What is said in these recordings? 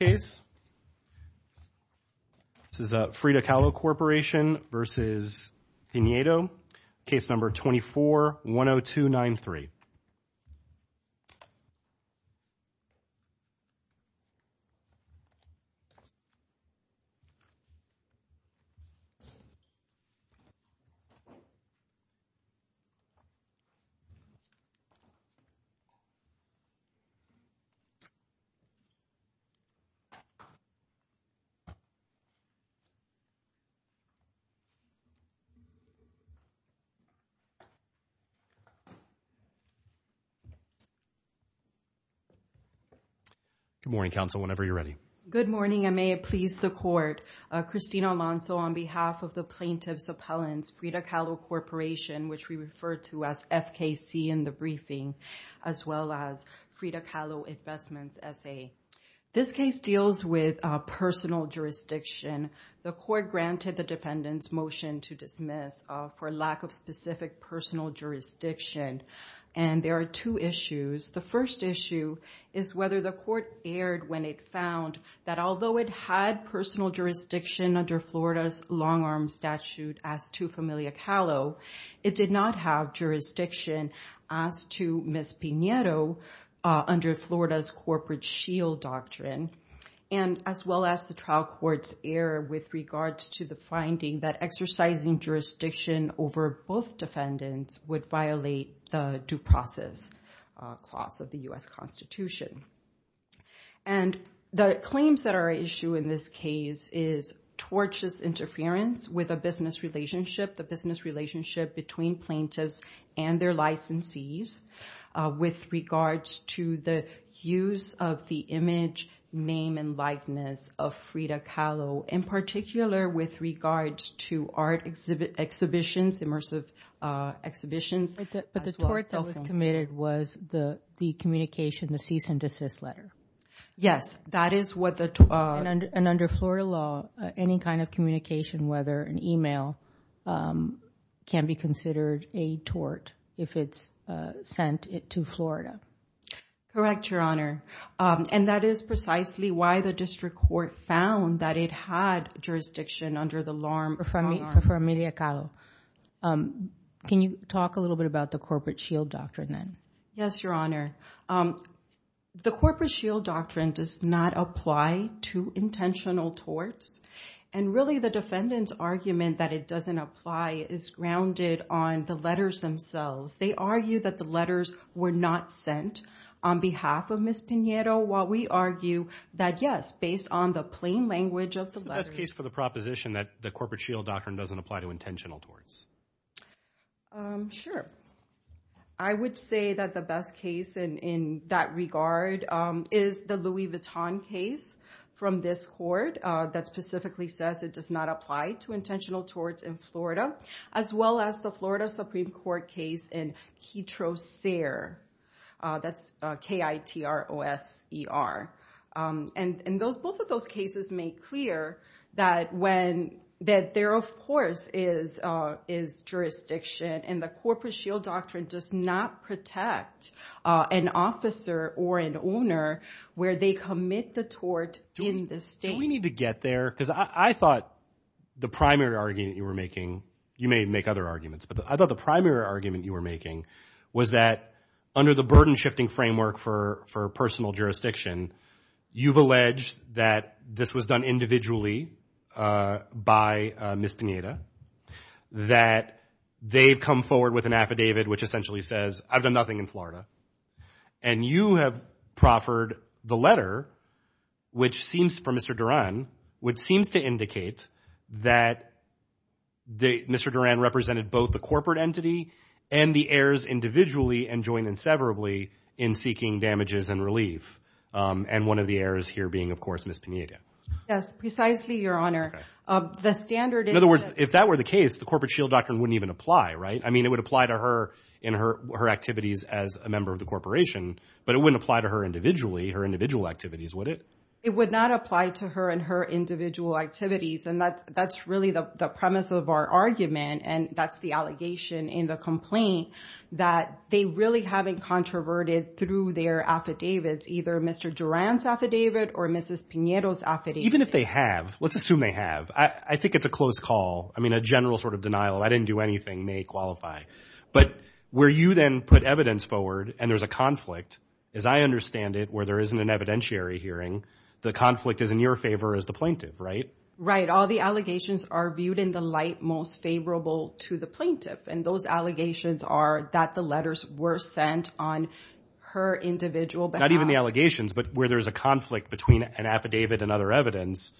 This is Frida Kahlo Corporation v. Pinedo, case number 24-10293. Mara Romeo Pinedo Good morning, counsel, whenever you're ready. Mara Romeo Pinedo Good morning, and may it please the court. Christina Alonso on behalf of the plaintiff's appellants, Frida Kahlo Corporation, which we refer to as FKC in the briefing, as well as Frida Kahlo Investments S.A. This case deals with personal jurisdiction. The court granted the defendant's motion to dismiss for lack of specific personal jurisdiction, and there are two issues. The first issue is whether the court erred when it found that although it had personal jurisdiction under Florida's long-arm statute as to Familia Kahlo, it did not have jurisdiction as to Ms. Pinedo under Florida's corporate shield doctrine, and as well as the trial court's error with regards to the finding that exercising jurisdiction over both defendants would violate the due process clause of the U.S. Constitution. And the claims that are at issue in this case is tortious interference with a business relationship, the business relationship between plaintiffs and their licensees with regards to the use of the image, name, and likeness of Frida Kahlo, in particular with regards to art exhibitions, immersive exhibitions, as well as cell phones. But the tort that was committed was the communication, the cease and desist letter. Yes, that is what the tort. And under Florida law, any kind of communication, whether an email, can be considered a tort if it's sent to Florida. Correct, Your Honor. And that is precisely why the district court found that it had jurisdiction under the long-arm For Familia Kahlo. Can you talk a little bit about the corporate shield doctrine then? Yes, Your Honor. The corporate shield doctrine does not apply to intentional torts. And really, the defendant's argument that it doesn't apply is grounded on the letters themselves. They argue that the letters were not sent on behalf of Ms. Pinheiro, while we argue that, yes, based on the plain language of the letters. What's the best case for the proposition that the corporate shield doctrine doesn't apply to intentional torts? Sure. I would say that the best case in that regard is the Louis Vuitton case from this court that specifically says it does not apply to intentional torts in Florida, as well as the Florida Supreme Court case in KITROSER. That's K-I-T-R-O-S-E-R. And both of those cases make clear that there, of course, is jurisdiction. And the corporate shield doctrine does not protect an officer or an owner where they commit the tort in the state. Do we need to get there? Because I thought the primary argument you were making, you may make other arguments, but I thought the primary argument you were making was that under the burden-shifting framework for personal jurisdiction, you've alleged that this was done individually by Ms. Pinheiro, that they've come forward with an affidavit which essentially says, I've done nothing in Florida, and you have proffered the letter, which seems, for Mr. Duran, which seems to indicate that Mr. Duran represented both the corporate entity and the heirs individually and joined inseverably in seeking damages and relief, and one of the heirs here being, of course, Ms. Pinheiro. Yes, precisely, Your Honor. In other words, if that were the case, the corporate shield doctrine wouldn't even apply, right? I mean, it would apply to her and her activities as a member of the corporation, but it wouldn't apply to her individually, her individual activities, would it? It would not apply to her and her individual activities, and that's really the premise of our argument, and that's the allegation in the complaint that they really haven't controverted through their affidavits, either Mr. Duran's affidavit or Mrs. Pinheiro's affidavit. Even if they have, let's assume they have. I think it's a close call. I mean, a general sort of denial, I didn't do anything, may qualify, but where you then put evidence forward and there's a conflict, as I understand it, where there isn't an evidentiary hearing, the conflict is in your favor as the plaintiff, right? Right. All the allegations are viewed in the light most favorable to the plaintiff, and those allegations are that the letters were sent on her individual behalf. Not even the allegations, but where there's a conflict between an affidavit and other evidence,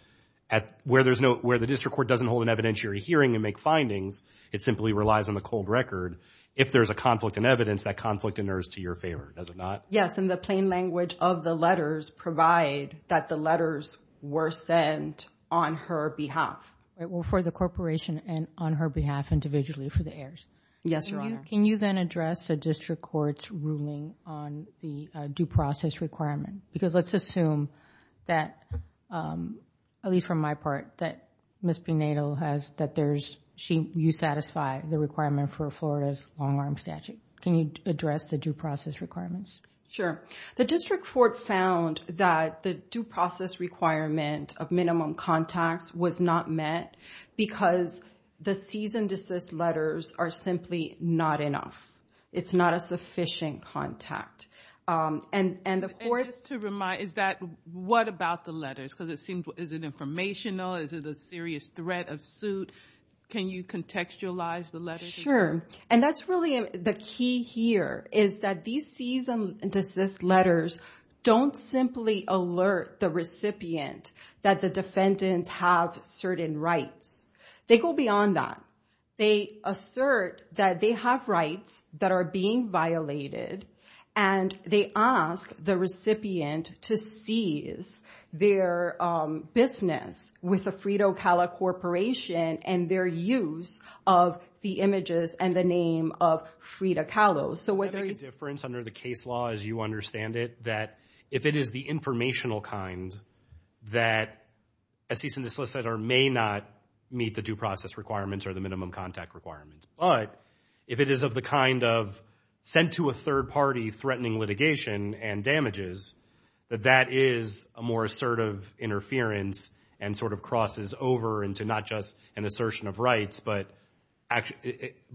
where the district court doesn't hold an evidentiary hearing and make findings, it simply relies on the cold record. If there's a conflict in evidence, that conflict enters to your favor, does it not? Yes, and the plain language of the letters provide that the letters were sent on her behalf. Well, for the corporation and on her behalf individually for the heirs. Yes, Your Honor. Can you then address the district court's ruling on the due process requirement? Because let's assume that, at least from my part, that Ms. Pinedo has, that you satisfy the requirement for Florida's long-arm statute. Can you address the due process requirements? Sure. The district court found that the due process requirement of minimum contacts was not met because the cease and desist letters are simply not enough. It's not a sufficient contact. And just to remind, is that what about the letters? Because it seems, is it informational? Is it a serious threat of suit? Can you contextualize the letters? Sure, and that's really the key here, is that these cease and desist letters don't simply alert the recipient that the defendants have certain rights. They go beyond that. They assert that they have rights that are being violated, and they ask the recipient to cease their business with the Frida Kahlo Corporation and their use of the images and the name of Frida Kahlo. Does that make a difference under the case law as you understand it, that if it is the informational kind that a cease and desist letter may not meet the due process requirements or the minimum contact requirements, but if it is of the kind of sent to a third party threatening litigation and damages, that that is a more assertive interference and sort of crosses over into not just an assertion of rights but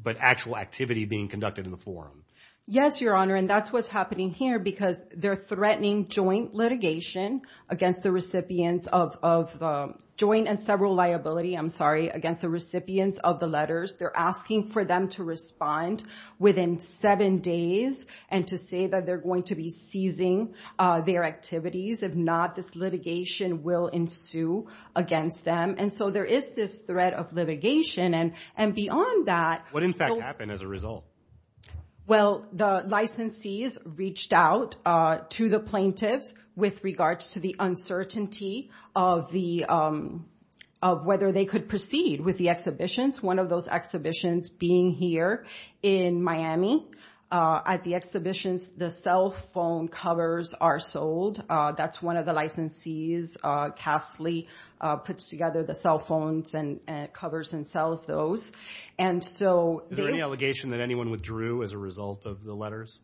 actual activity being conducted in the forum? Yes, Your Honor, and that's what's happening here because they're threatening joint litigation against the recipients of the letters. They're asking for them to respond within seven days and to say that they're going to be ceasing their activities if not this litigation will ensue against them. And so there is this threat of litigation, and beyond that those— What, in fact, happened as a result? Well, the licensees reached out to the plaintiffs with regards to the uncertainty of whether they could proceed with the exhibitions, one of those exhibitions being here in Miami. At the exhibitions, the cell phone covers are sold. That's one of the licensees. Casley puts together the cell phones and covers and sells those. Is there any allegation that anyone withdrew as a result of the letters?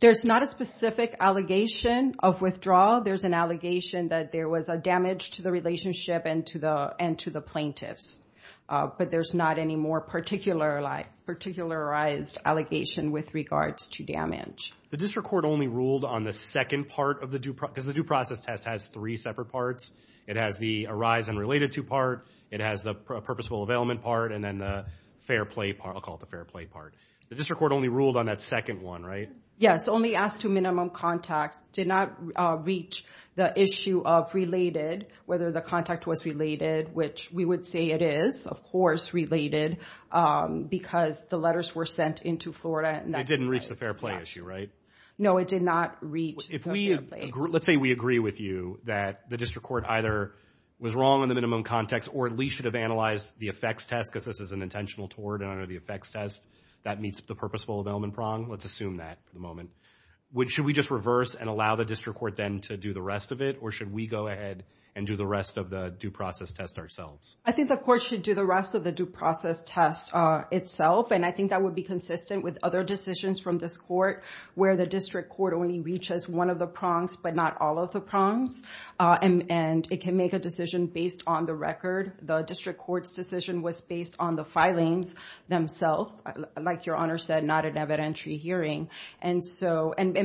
There's not a specific allegation of withdrawal. There's an allegation that there was a damage to the relationship and to the plaintiffs, but there's not any more particularized allegation with regards to damage. The district court only ruled on the second part of the due— because the due process test has three separate parts. It has the arise and related to part, it has the purposeful availment part, and then the fair play part. I'll call it the fair play part. The district court only ruled on that second one, right? Yes, only asked to minimum context. Did not reach the issue of related, whether the contact was related, which we would say it is, of course, related, because the letters were sent into Florida. It didn't reach the fair play issue, right? No, it did not reach the fair play. Let's say we agree with you that the district court either was wrong in the minimum context or at least should have analyzed the effects test, because this is an intentional tort under the effects test that meets the purposeful availment prong. Let's assume that for the moment. Should we just reverse and allow the district court then to do the rest of it, or should we go ahead and do the rest of the due process test ourselves? I think the court should do the rest of the due process test itself, and I think that would be consistent with other decisions from this court where the district court only reaches one of the prongs but not all of the prongs, and it can make a decision based on the record. The district court's decision was based on the filings themselves, like Your Honor said, not an evidentiary hearing, and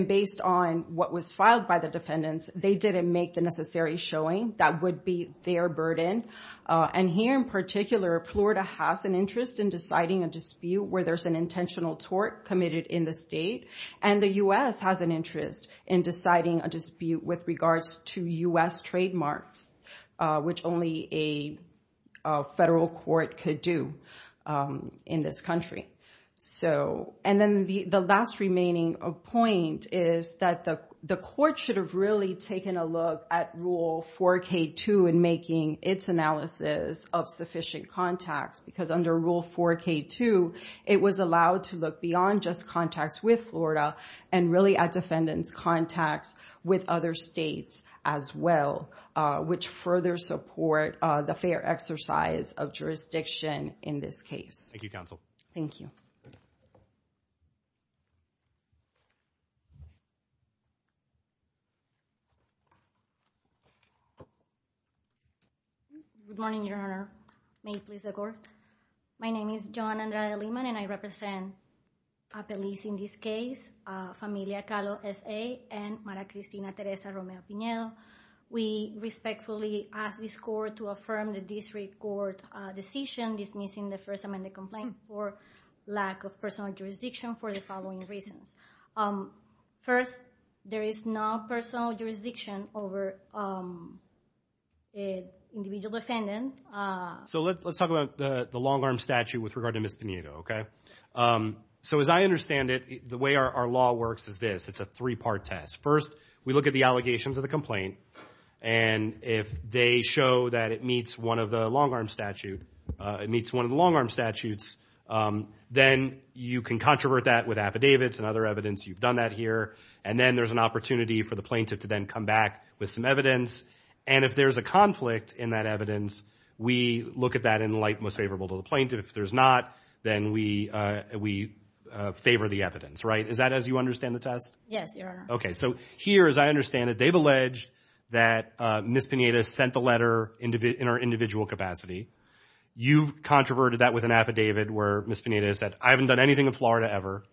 based on what was filed by the defendants, they didn't make the necessary showing that would be their burden, and here in particular, Florida has an interest in deciding a dispute where there's an intentional tort committed in the state, and the U.S. has an interest in deciding a dispute with regards to U.S. trademarks, which only a federal court could do in this country. And then the last remaining point is that the court should have really taken a look at Rule 4K2 in making its analysis of sufficient contacts, because under Rule 4K2, it was allowed to look beyond just contacts with Florida and really at defendants' contacts with other states as well, which further support the fair exercise of jurisdiction in this case. Thank you, Counsel. Thank you. Thank you. Good morning, Your Honor. May it please the court. My name is Joan Andrea Limon, and I represent a police in this case, Familia Calo S.A. and Mara Cristina Teresa Romeo Pinedo. We respectfully ask this court to affirm the district court decision dismissing the First Amendment complaint for lack of personal jurisdiction for the following reasons. First, there is no personal jurisdiction over an individual defendant. So let's talk about the long-arm statute with regard to Ms. Pinedo, okay? So as I understand it, the way our law works is this. It's a three-part test. First, we look at the allegations of the complaint, and if they show that it meets one of the long-arm statutes, then you can controvert that with affidavits and other evidence. You've done that here. And then there's an opportunity for the plaintiff to then come back with some evidence. And if there's a conflict in that evidence, we look at that in the light most favorable to the plaintiff. If there's not, then we favor the evidence, right? Is that as you understand the test? Yes, Your Honor. Okay, so here, as I understand it, they've alleged that Ms. Pinedo sent the letter in her individual capacity. You controverted that with an affidavit where Ms. Pinedo said, I haven't done anything in Florida ever,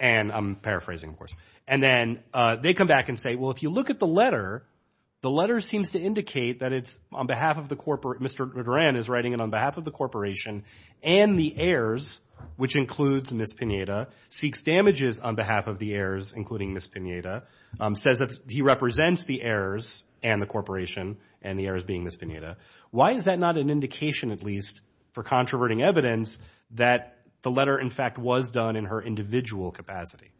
and I'm paraphrasing, of course. And then they come back and say, well, if you look at the letter, the letter seems to indicate that it's on behalf of the corporate. Mr. Duran is writing it on behalf of the corporation and the heirs, which includes Ms. Pinedo, seeks damages on behalf of the heirs, including Ms. Pinedo, says that he represents the heirs and the corporation and the heirs being Ms. Pinedo. Why is that not an indication, at least, for controverting evidence, that the letter, in fact, was done in her individual capacity?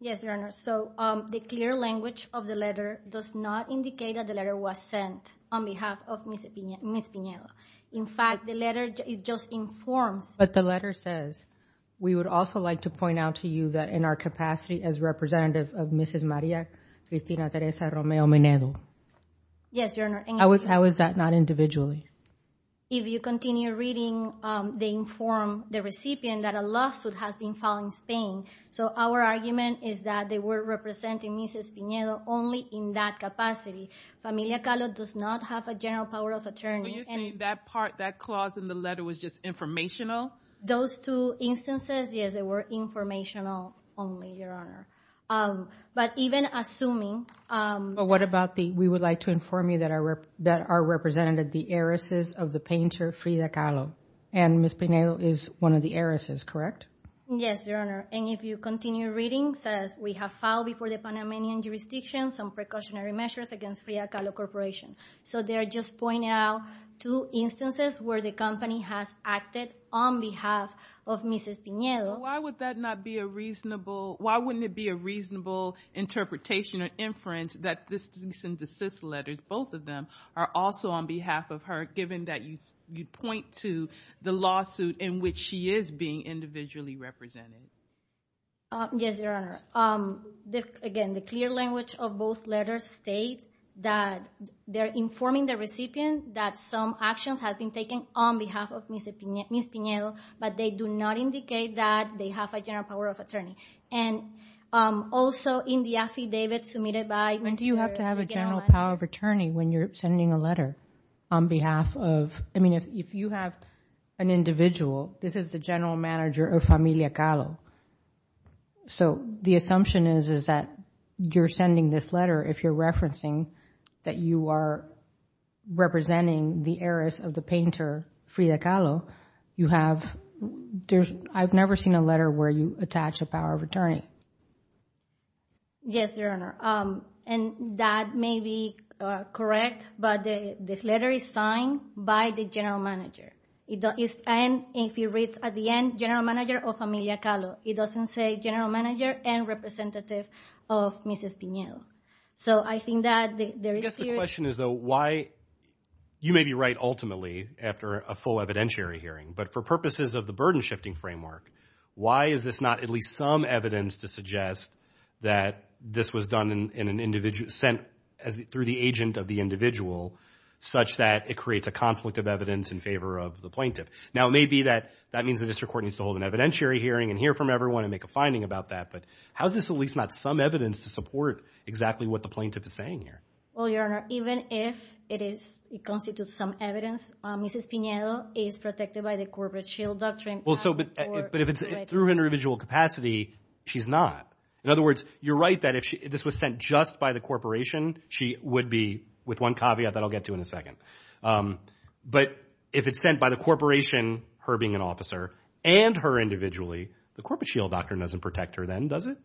Yes, Your Honor. So the clear language of the letter does not indicate that the letter was sent on behalf of Ms. Pinedo. In fact, the letter just informs. But the letter says, we would also like to point out to you that in our capacity, as representative of Mrs. Maria Cristina Teresa Romeo Menedo. Yes, Your Honor. How is that not individually? If you continue reading, they inform the recipient that a lawsuit has been filed in Spain. So our argument is that they were representing Mrs. Pinedo only in that capacity. Familia Calo does not have a general power of attorney. So you're saying that part, that clause in the letter, was just informational? Those two instances, yes, they were informational only, Your Honor. But even assuming. But what about the, we would like to inform you that our representative, the heiress of the painter Frida Calo. And Ms. Pinedo is one of the heiresses, correct? Yes, Your Honor. And if you continue reading, it says we have filed before the Panamanian jurisdiction some precautionary measures against Frida Calo Corporation. So they're just pointing out two instances where the company has acted on behalf of Mrs. Pinedo. Why would that not be a reasonable, why wouldn't it be a reasonable interpretation or inference that these letters, both of them, are also on behalf of her, given that you point to the lawsuit in which she is being individually represented? Yes, Your Honor. Again, the clear language of both letters state that they're informing the recipient that some actions have been taken on behalf of Ms. Pinedo, but they do not indicate that they have a general power of attorney. And also in the affidavit submitted by Mr. Gallagher. And do you have to have a general power of attorney when you're sending a letter on behalf of, I mean, if you have an individual, this is the general manager of Familia Calo. So the assumption is that you're sending this letter if you're referencing that you are representing the heiress of the painter Frida Calo. You have, I've never seen a letter where you attach a power of attorney. Yes, Your Honor. And that may be correct, but this letter is signed by the general manager. And if you read at the end, general manager of Familia Calo. It doesn't say general manager and representative of Mrs. Pinedo. So I think that there is... I guess the question is though, why, you may be right ultimately after a full evidentiary hearing, but for purposes of the burden shifting framework, why is this not at least some evidence to suggest that this was done in an individual, sent through the agent of the individual, such that it creates a conflict of evidence in favor of the plaintiff? Now, it may be that that means the district court needs to hold an evidentiary hearing and hear from everyone and make a finding about that. But how is this at least not some evidence to support exactly what the plaintiff is saying here? Well, Your Honor, even if it constitutes some evidence, Mrs. Pinedo is protected by the corporate shield doctrine. But if it's through individual capacity, she's not. In other words, you're right that if this was sent just by the corporation, she would be with one caveat that I'll get to in a second. But if it's sent by the corporation, her being an officer, and her individually, the corporate shield doctrine doesn't protect her then, does it?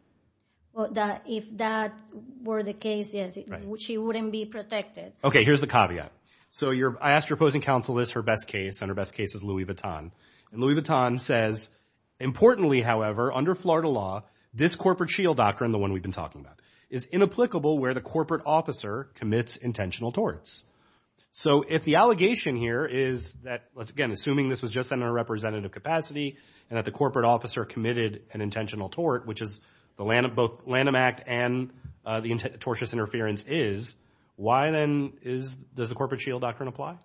Well, if that were the case, yes, she wouldn't be protected. Okay, here's the caveat. So I asked your opposing counsel this, her best case, and her best case is Louis Vuitton. And Louis Vuitton says, importantly, however, under Florida law, this corporate shield doctrine, the one we've been talking about, is inapplicable where the corporate officer commits intentional torts. So if the allegation here is that, again, assuming this was just sent in a representative capacity and that the corporate officer committed an intentional tort, which is both Lanham Act and the tortious interference is, why then does the corporate shield doctrine apply?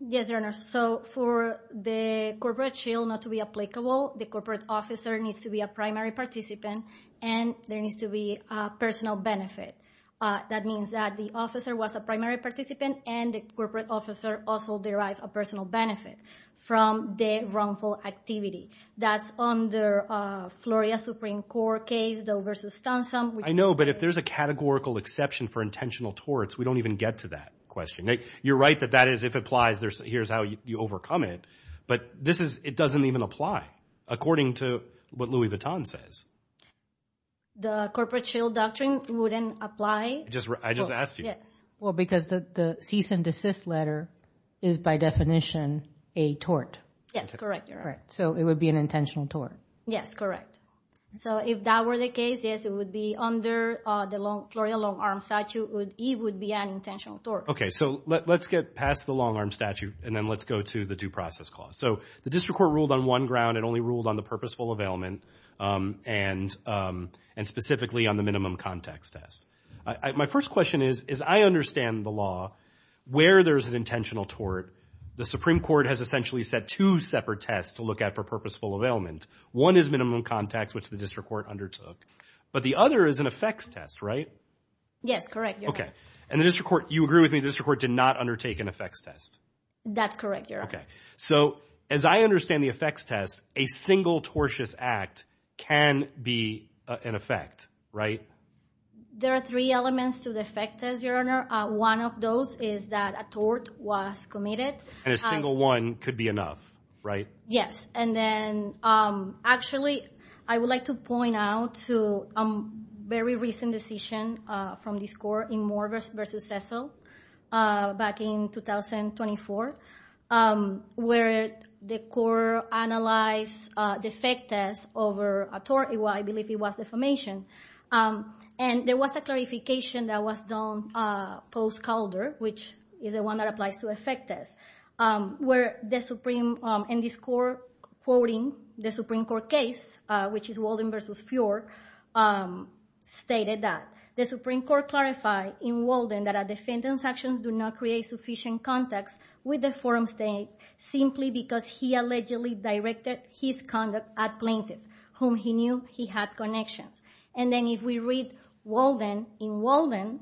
Yes, Your Honor. So for the corporate shield not to be applicable, the corporate officer needs to be a primary participant, and there needs to be a personal benefit. That means that the officer was a primary participant and the corporate officer also derived a personal benefit from the wrongful activity. That's under Florida Supreme Court case, Doe v. Stansom. I know, but if there's a categorical exception for intentional torts, we don't even get to that question. You're right that that is, if it applies, here's how you overcome it. But this is, it doesn't even apply according to what Louis Vuitton says. The corporate shield doctrine wouldn't apply? I just asked you. Well, because the cease and desist letter is by definition a tort. Yes, correct, Your Honor. So it would be an intentional tort. Yes, correct. So if that were the case, yes, it would be under the Florida long-arm statute, it would be an intentional tort. Okay, so let's get past the long-arm statute and then let's go to the due process clause. So the district court ruled on one ground. It only ruled on the purposeful availment and specifically on the minimum context test. My first question is, I understand the law where there's an intentional tort. The Supreme Court has essentially set two separate tests to look at for purposeful availment. One is minimum context, which the district court undertook, but the other is an effects test, right? Yes, correct, Your Honor. Okay, and the district court, you agree with me, the district court did not undertake an effects test? That's correct, Your Honor. Okay, so as I understand the effects test, a single tortious act can be an effect, right? There are three elements to the effects test, Your Honor. One of those is that a tort was committed. And a single one could be enough, right? Yes, and then actually I would like to point out a very recent decision from this court in Moore v. Cecil back in 2024 where the court analyzed the effects test over a tort. Well, I believe it was defamation. And there was a clarification that was done post Calder, which is the one that applies to effects test, where the Supreme Court in this court quoting the Supreme Court case, which is Walden v. Fjord, stated that, the Supreme Court clarified in Walden that a defendant's actions do not create sufficient context with the forum state simply because he allegedly directed his conduct at plaintiff, whom he knew he had connections. And then if we read Walden in Walden,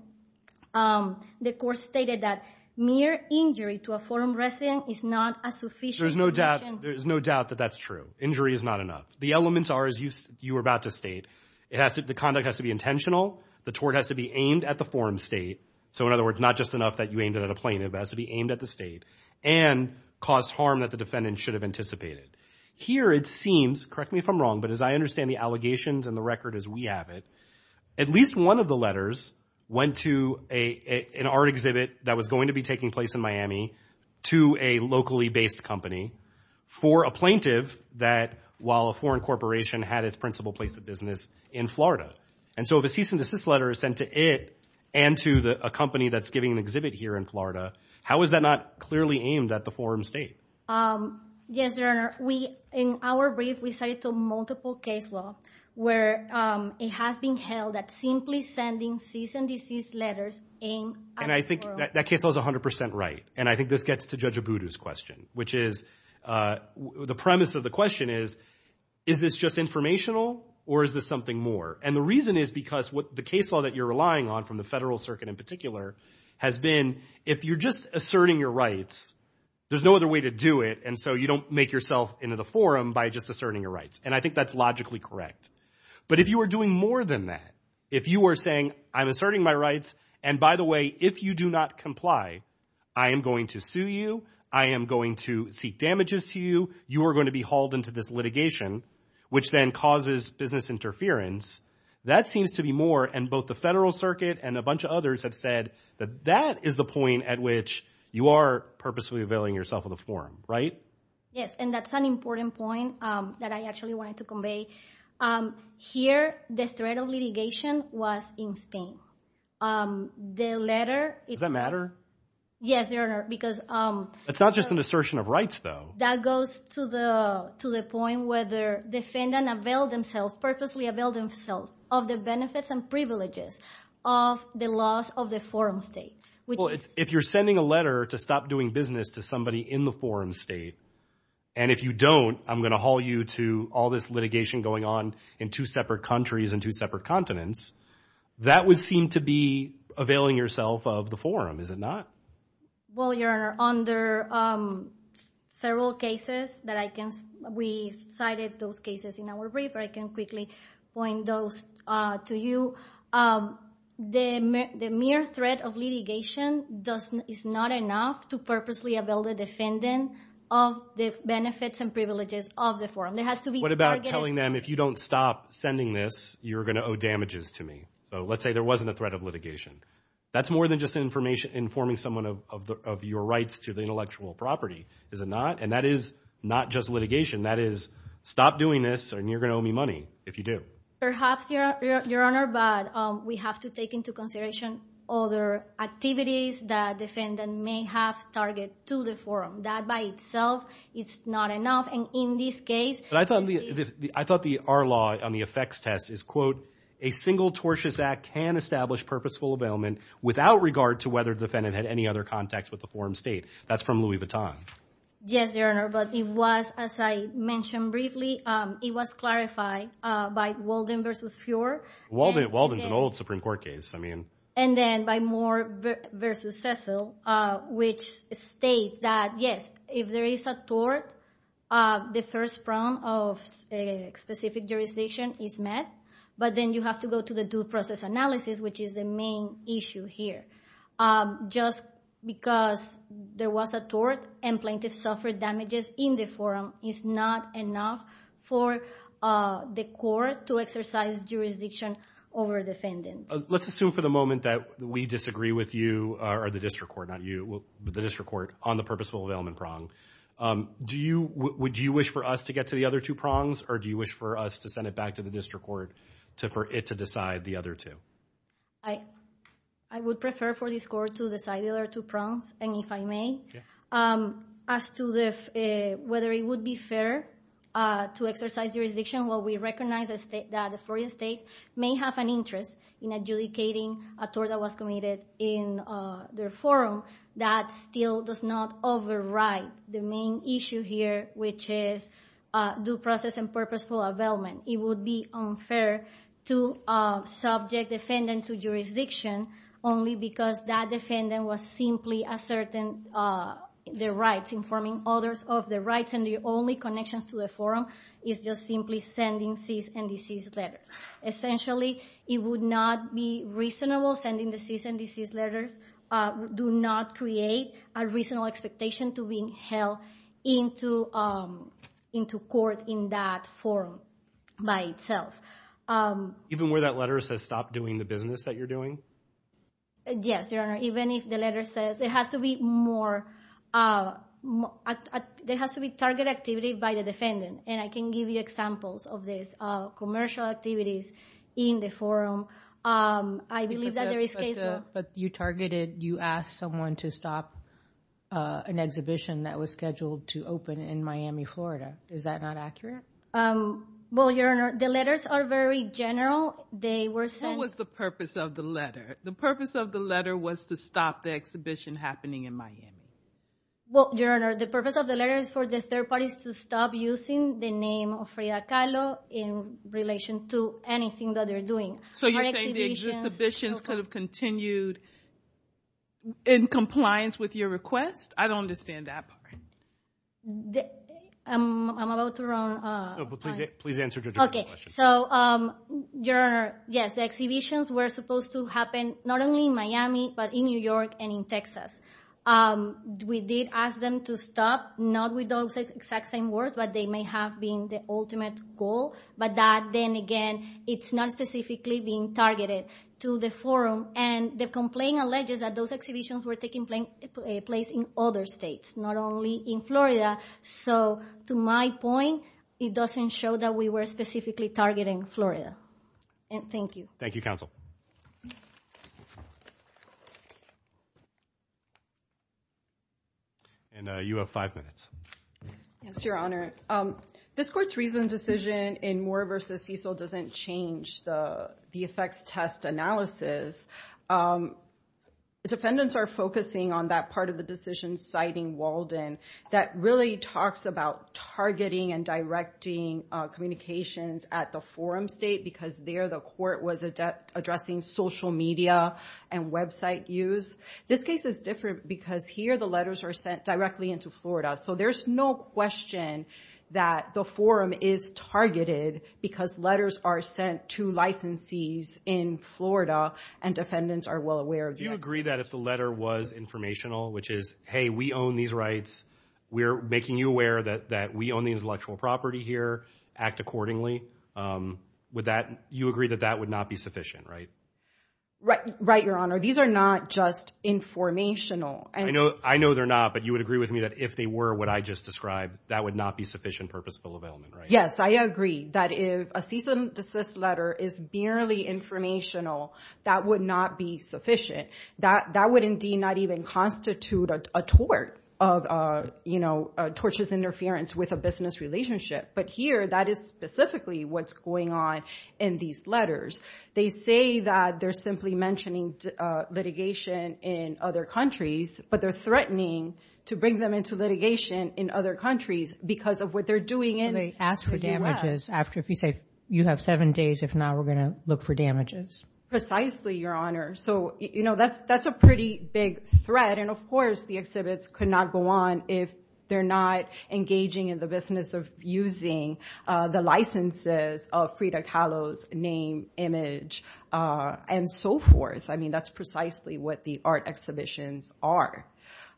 the court stated that mere injury to a forum resident is not a sufficient connection. There's no doubt that that's true. Injury is not enough. The elements are, as you were about to state, the conduct has to be intentional. The tort has to be aimed at the forum state. So in other words, not just enough that you aimed it at a plaintiff. It has to be aimed at the state and cause harm that the defendant should have anticipated. Here it seems, correct me if I'm wrong, but as I understand the allegations and the record as we have it, at least one of the letters went to an art exhibit that was going to be taking place in Miami to a locally based company for a plaintiff that, while a foreign corporation, had its principal place of business in Florida. And so if a cease and desist letter is sent to it and to a company that's giving an exhibit here in Florida, how is that not clearly aimed at the forum state? Yes, Your Honor. In our brief, we cited multiple case law where it has been held that simply sending cease and desist letters aimed at the forum. And I think that case law is 100% right. And I think this gets to Judge Abudu's question, which is, the premise of the question is, is this just informational or is this something more? And the reason is because the case law that you're relying on from the federal circuit in particular has been, if you're just asserting your rights, there's no other way to do it, and so you don't make yourself into the forum by just asserting your rights. And I think that's logically correct. But if you are doing more than that, if you are saying, I'm asserting my rights, and by the way, if you do not comply, I am going to sue you, I am going to seek damages to you, you are going to be hauled into this litigation, which then causes business interference, that seems to be more, and both the federal circuit and a bunch of others have said that that is the point at which you are purposely availing yourself of the forum, right? Yes, and that's an important point that I actually wanted to convey. Here, the threat of litigation was in Spain. The letter – Does that matter? Yes, Your Honor, because – It's not just an assertion of rights though. That goes to the point where the defendant availed themselves, purposely availed themselves of the benefits and privileges of the laws of the forum state. Well, if you're sending a letter to stop doing business to somebody in the forum state, and if you don't, I'm going to haul you to all this litigation going on in two separate countries and two separate continents, that would seem to be availing yourself of the forum, is it not? Well, Your Honor, under several cases that I can – we cited those cases in our brief, I can quickly point those to you. The mere threat of litigation is not enough to purposely avail the defendant of the benefits and privileges of the forum. There has to be – What about telling them, if you don't stop sending this, you're going to owe damages to me? So let's say there wasn't a threat of litigation. That's more than just informing someone of your rights to the intellectual property, is it not? And that is not just litigation. That is, stop doing this and you're going to owe me money if you do. Perhaps, Your Honor, but we have to take into consideration other activities that defendant may have target to the forum. That by itself is not enough, and in this case – But I thought the – I thought the – our law on the effects test is, quote, a single tortious act can establish purposeful availment without regard to whether defendant had any other contacts with the forum state. That's from Louis Vuitton. Yes, Your Honor, but it was, as I mentioned briefly, it was clarified by Walden v. Fuhrer. Walden is an old Supreme Court case. I mean – And then by Moore v. Cecil, which states that, yes, if there is a tort, the first round of specific jurisdiction is met, but then you have to go to the due process analysis, which is the main issue here. Just because there was a tort and plaintiff suffered damages in the forum is not enough for the court to exercise jurisdiction over defendant. Let's assume for the moment that we disagree with you, or the district court, not you, the district court, on the purposeful availment prong. Do you – would you wish for us to get to the other two prongs, or do you wish for us to send it back to the district court for it to decide the other two? I would prefer for this court to decide the other two prongs, and if I may, as to whether it would be fair to exercise jurisdiction, well, we recognize that the Florida State may have an interest in adjudicating a tort that was committed in their forum. That still does not override the main issue here, which is due process and purposeful availment. It would be unfair to subject defendant to jurisdiction only because that defendant was simply asserting their rights, informing others of their rights, and the only connections to the forum is just simply sending cease and desist letters. Essentially, it would not be reasonable sending the cease and desist letters. Do not create a reasonable expectation to be held into court in that forum by itself. Even where that letter says stop doing the business that you're doing? Yes, Your Honor. Even if the letter says – there has to be more – there has to be target activity by the defendant, and I can give you examples of these commercial activities in the forum. I believe that there is case law. But you targeted – you asked someone to stop an exhibition that was scheduled to open in Miami, Florida. Is that not accurate? Well, Your Honor, the letters are very general. They were sent – What was the purpose of the letter? The purpose of the letter was to stop the exhibition happening in Miami. Well, Your Honor, the purpose of the letter is for the third parties to stop using the name of Frida Kahlo in relation to anything that they're doing. So you're saying the exhibitions could have continued in compliance with your request? I don't understand that part. I'm about to run out of time. Please answer the question. So, Your Honor, yes, the exhibitions were supposed to happen not only in Miami but in New York and in Texas. We did ask them to stop, not with those exact same words, but they may have been the ultimate goal. But that, then again, it's not specifically being targeted to the forum. And the complaint alleges that those exhibitions were taking place in other states, not only in Florida. So, to my point, it doesn't show that we were specifically targeting Florida. And thank you. Thank you, counsel. And you have five minutes. Yes, Your Honor. This Court's recent decision in Moore v. Cecil doesn't change the effects test analysis. Defendants are focusing on that part of the decision citing Walden that really talks about targeting and directing communications at the forum state because there the court was addressing social media and website use. This case is different because here the letters are sent directly into Florida. So there's no question that the forum is targeted because letters are sent to licensees in Florida and defendants are well aware of that. Do you agree that if the letter was informational, which is, hey, we own these rights, we're making you aware that we own the intellectual property here, act accordingly, you agree that that would not be sufficient, right? Right, Your Honor. These are not just informational. I know they're not, but you would agree with me that if they were what I just described, that would not be sufficient purposeful availment, right? Yes, I agree. That if a cease and desist letter is merely informational, that would not be sufficient. That would indeed not even constitute a tort of, you know, tortious interference with a business relationship. But here that is specifically what's going on in these letters. They say that they're simply mentioning litigation in other countries, but they're threatening to bring them into litigation in other countries because of what they're doing in the U.S. If they ask for damages after, if you say you have seven days, if not, we're going to look for damages. Precisely, Your Honor. So, you know, that's a pretty big threat. And, of course, the exhibits could not go on if they're not engaging in the business of using the licenses of Frida Kahlo's name, image, and so forth. I mean, that's precisely what the art exhibitions are.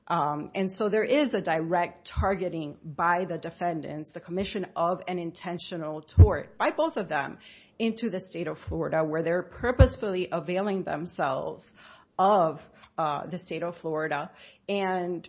And so there is a direct targeting by the defendants, the commission of an intentional tort by both of them into the state of Florida where they're purposefully availing themselves of the state of Florida and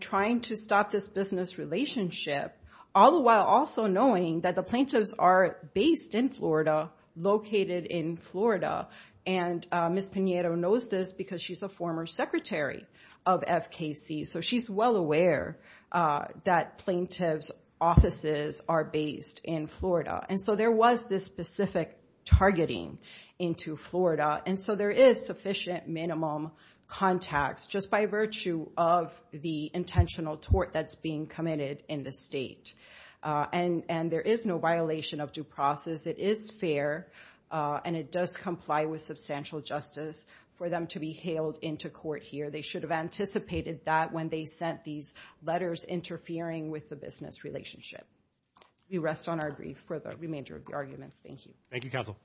trying to stop this business relationship, all the while also knowing that the plaintiffs are based in Florida, located in Florida. And Ms. Pinheiro knows this because she's a former secretary of FKC, so she's well aware that plaintiffs' offices are based in Florida. And so there was this specific targeting into Florida, and so there is sufficient minimum contacts just by virtue of the intentional tort that's being committed in the state. And there is no violation of due process. It is fair, and it does comply with substantial justice for them to be hailed into court here. They should have anticipated that when they sent these letters interfering with the business relationship. We rest on our grief for the remainder of the arguments. Thank you. Thank you, counsel.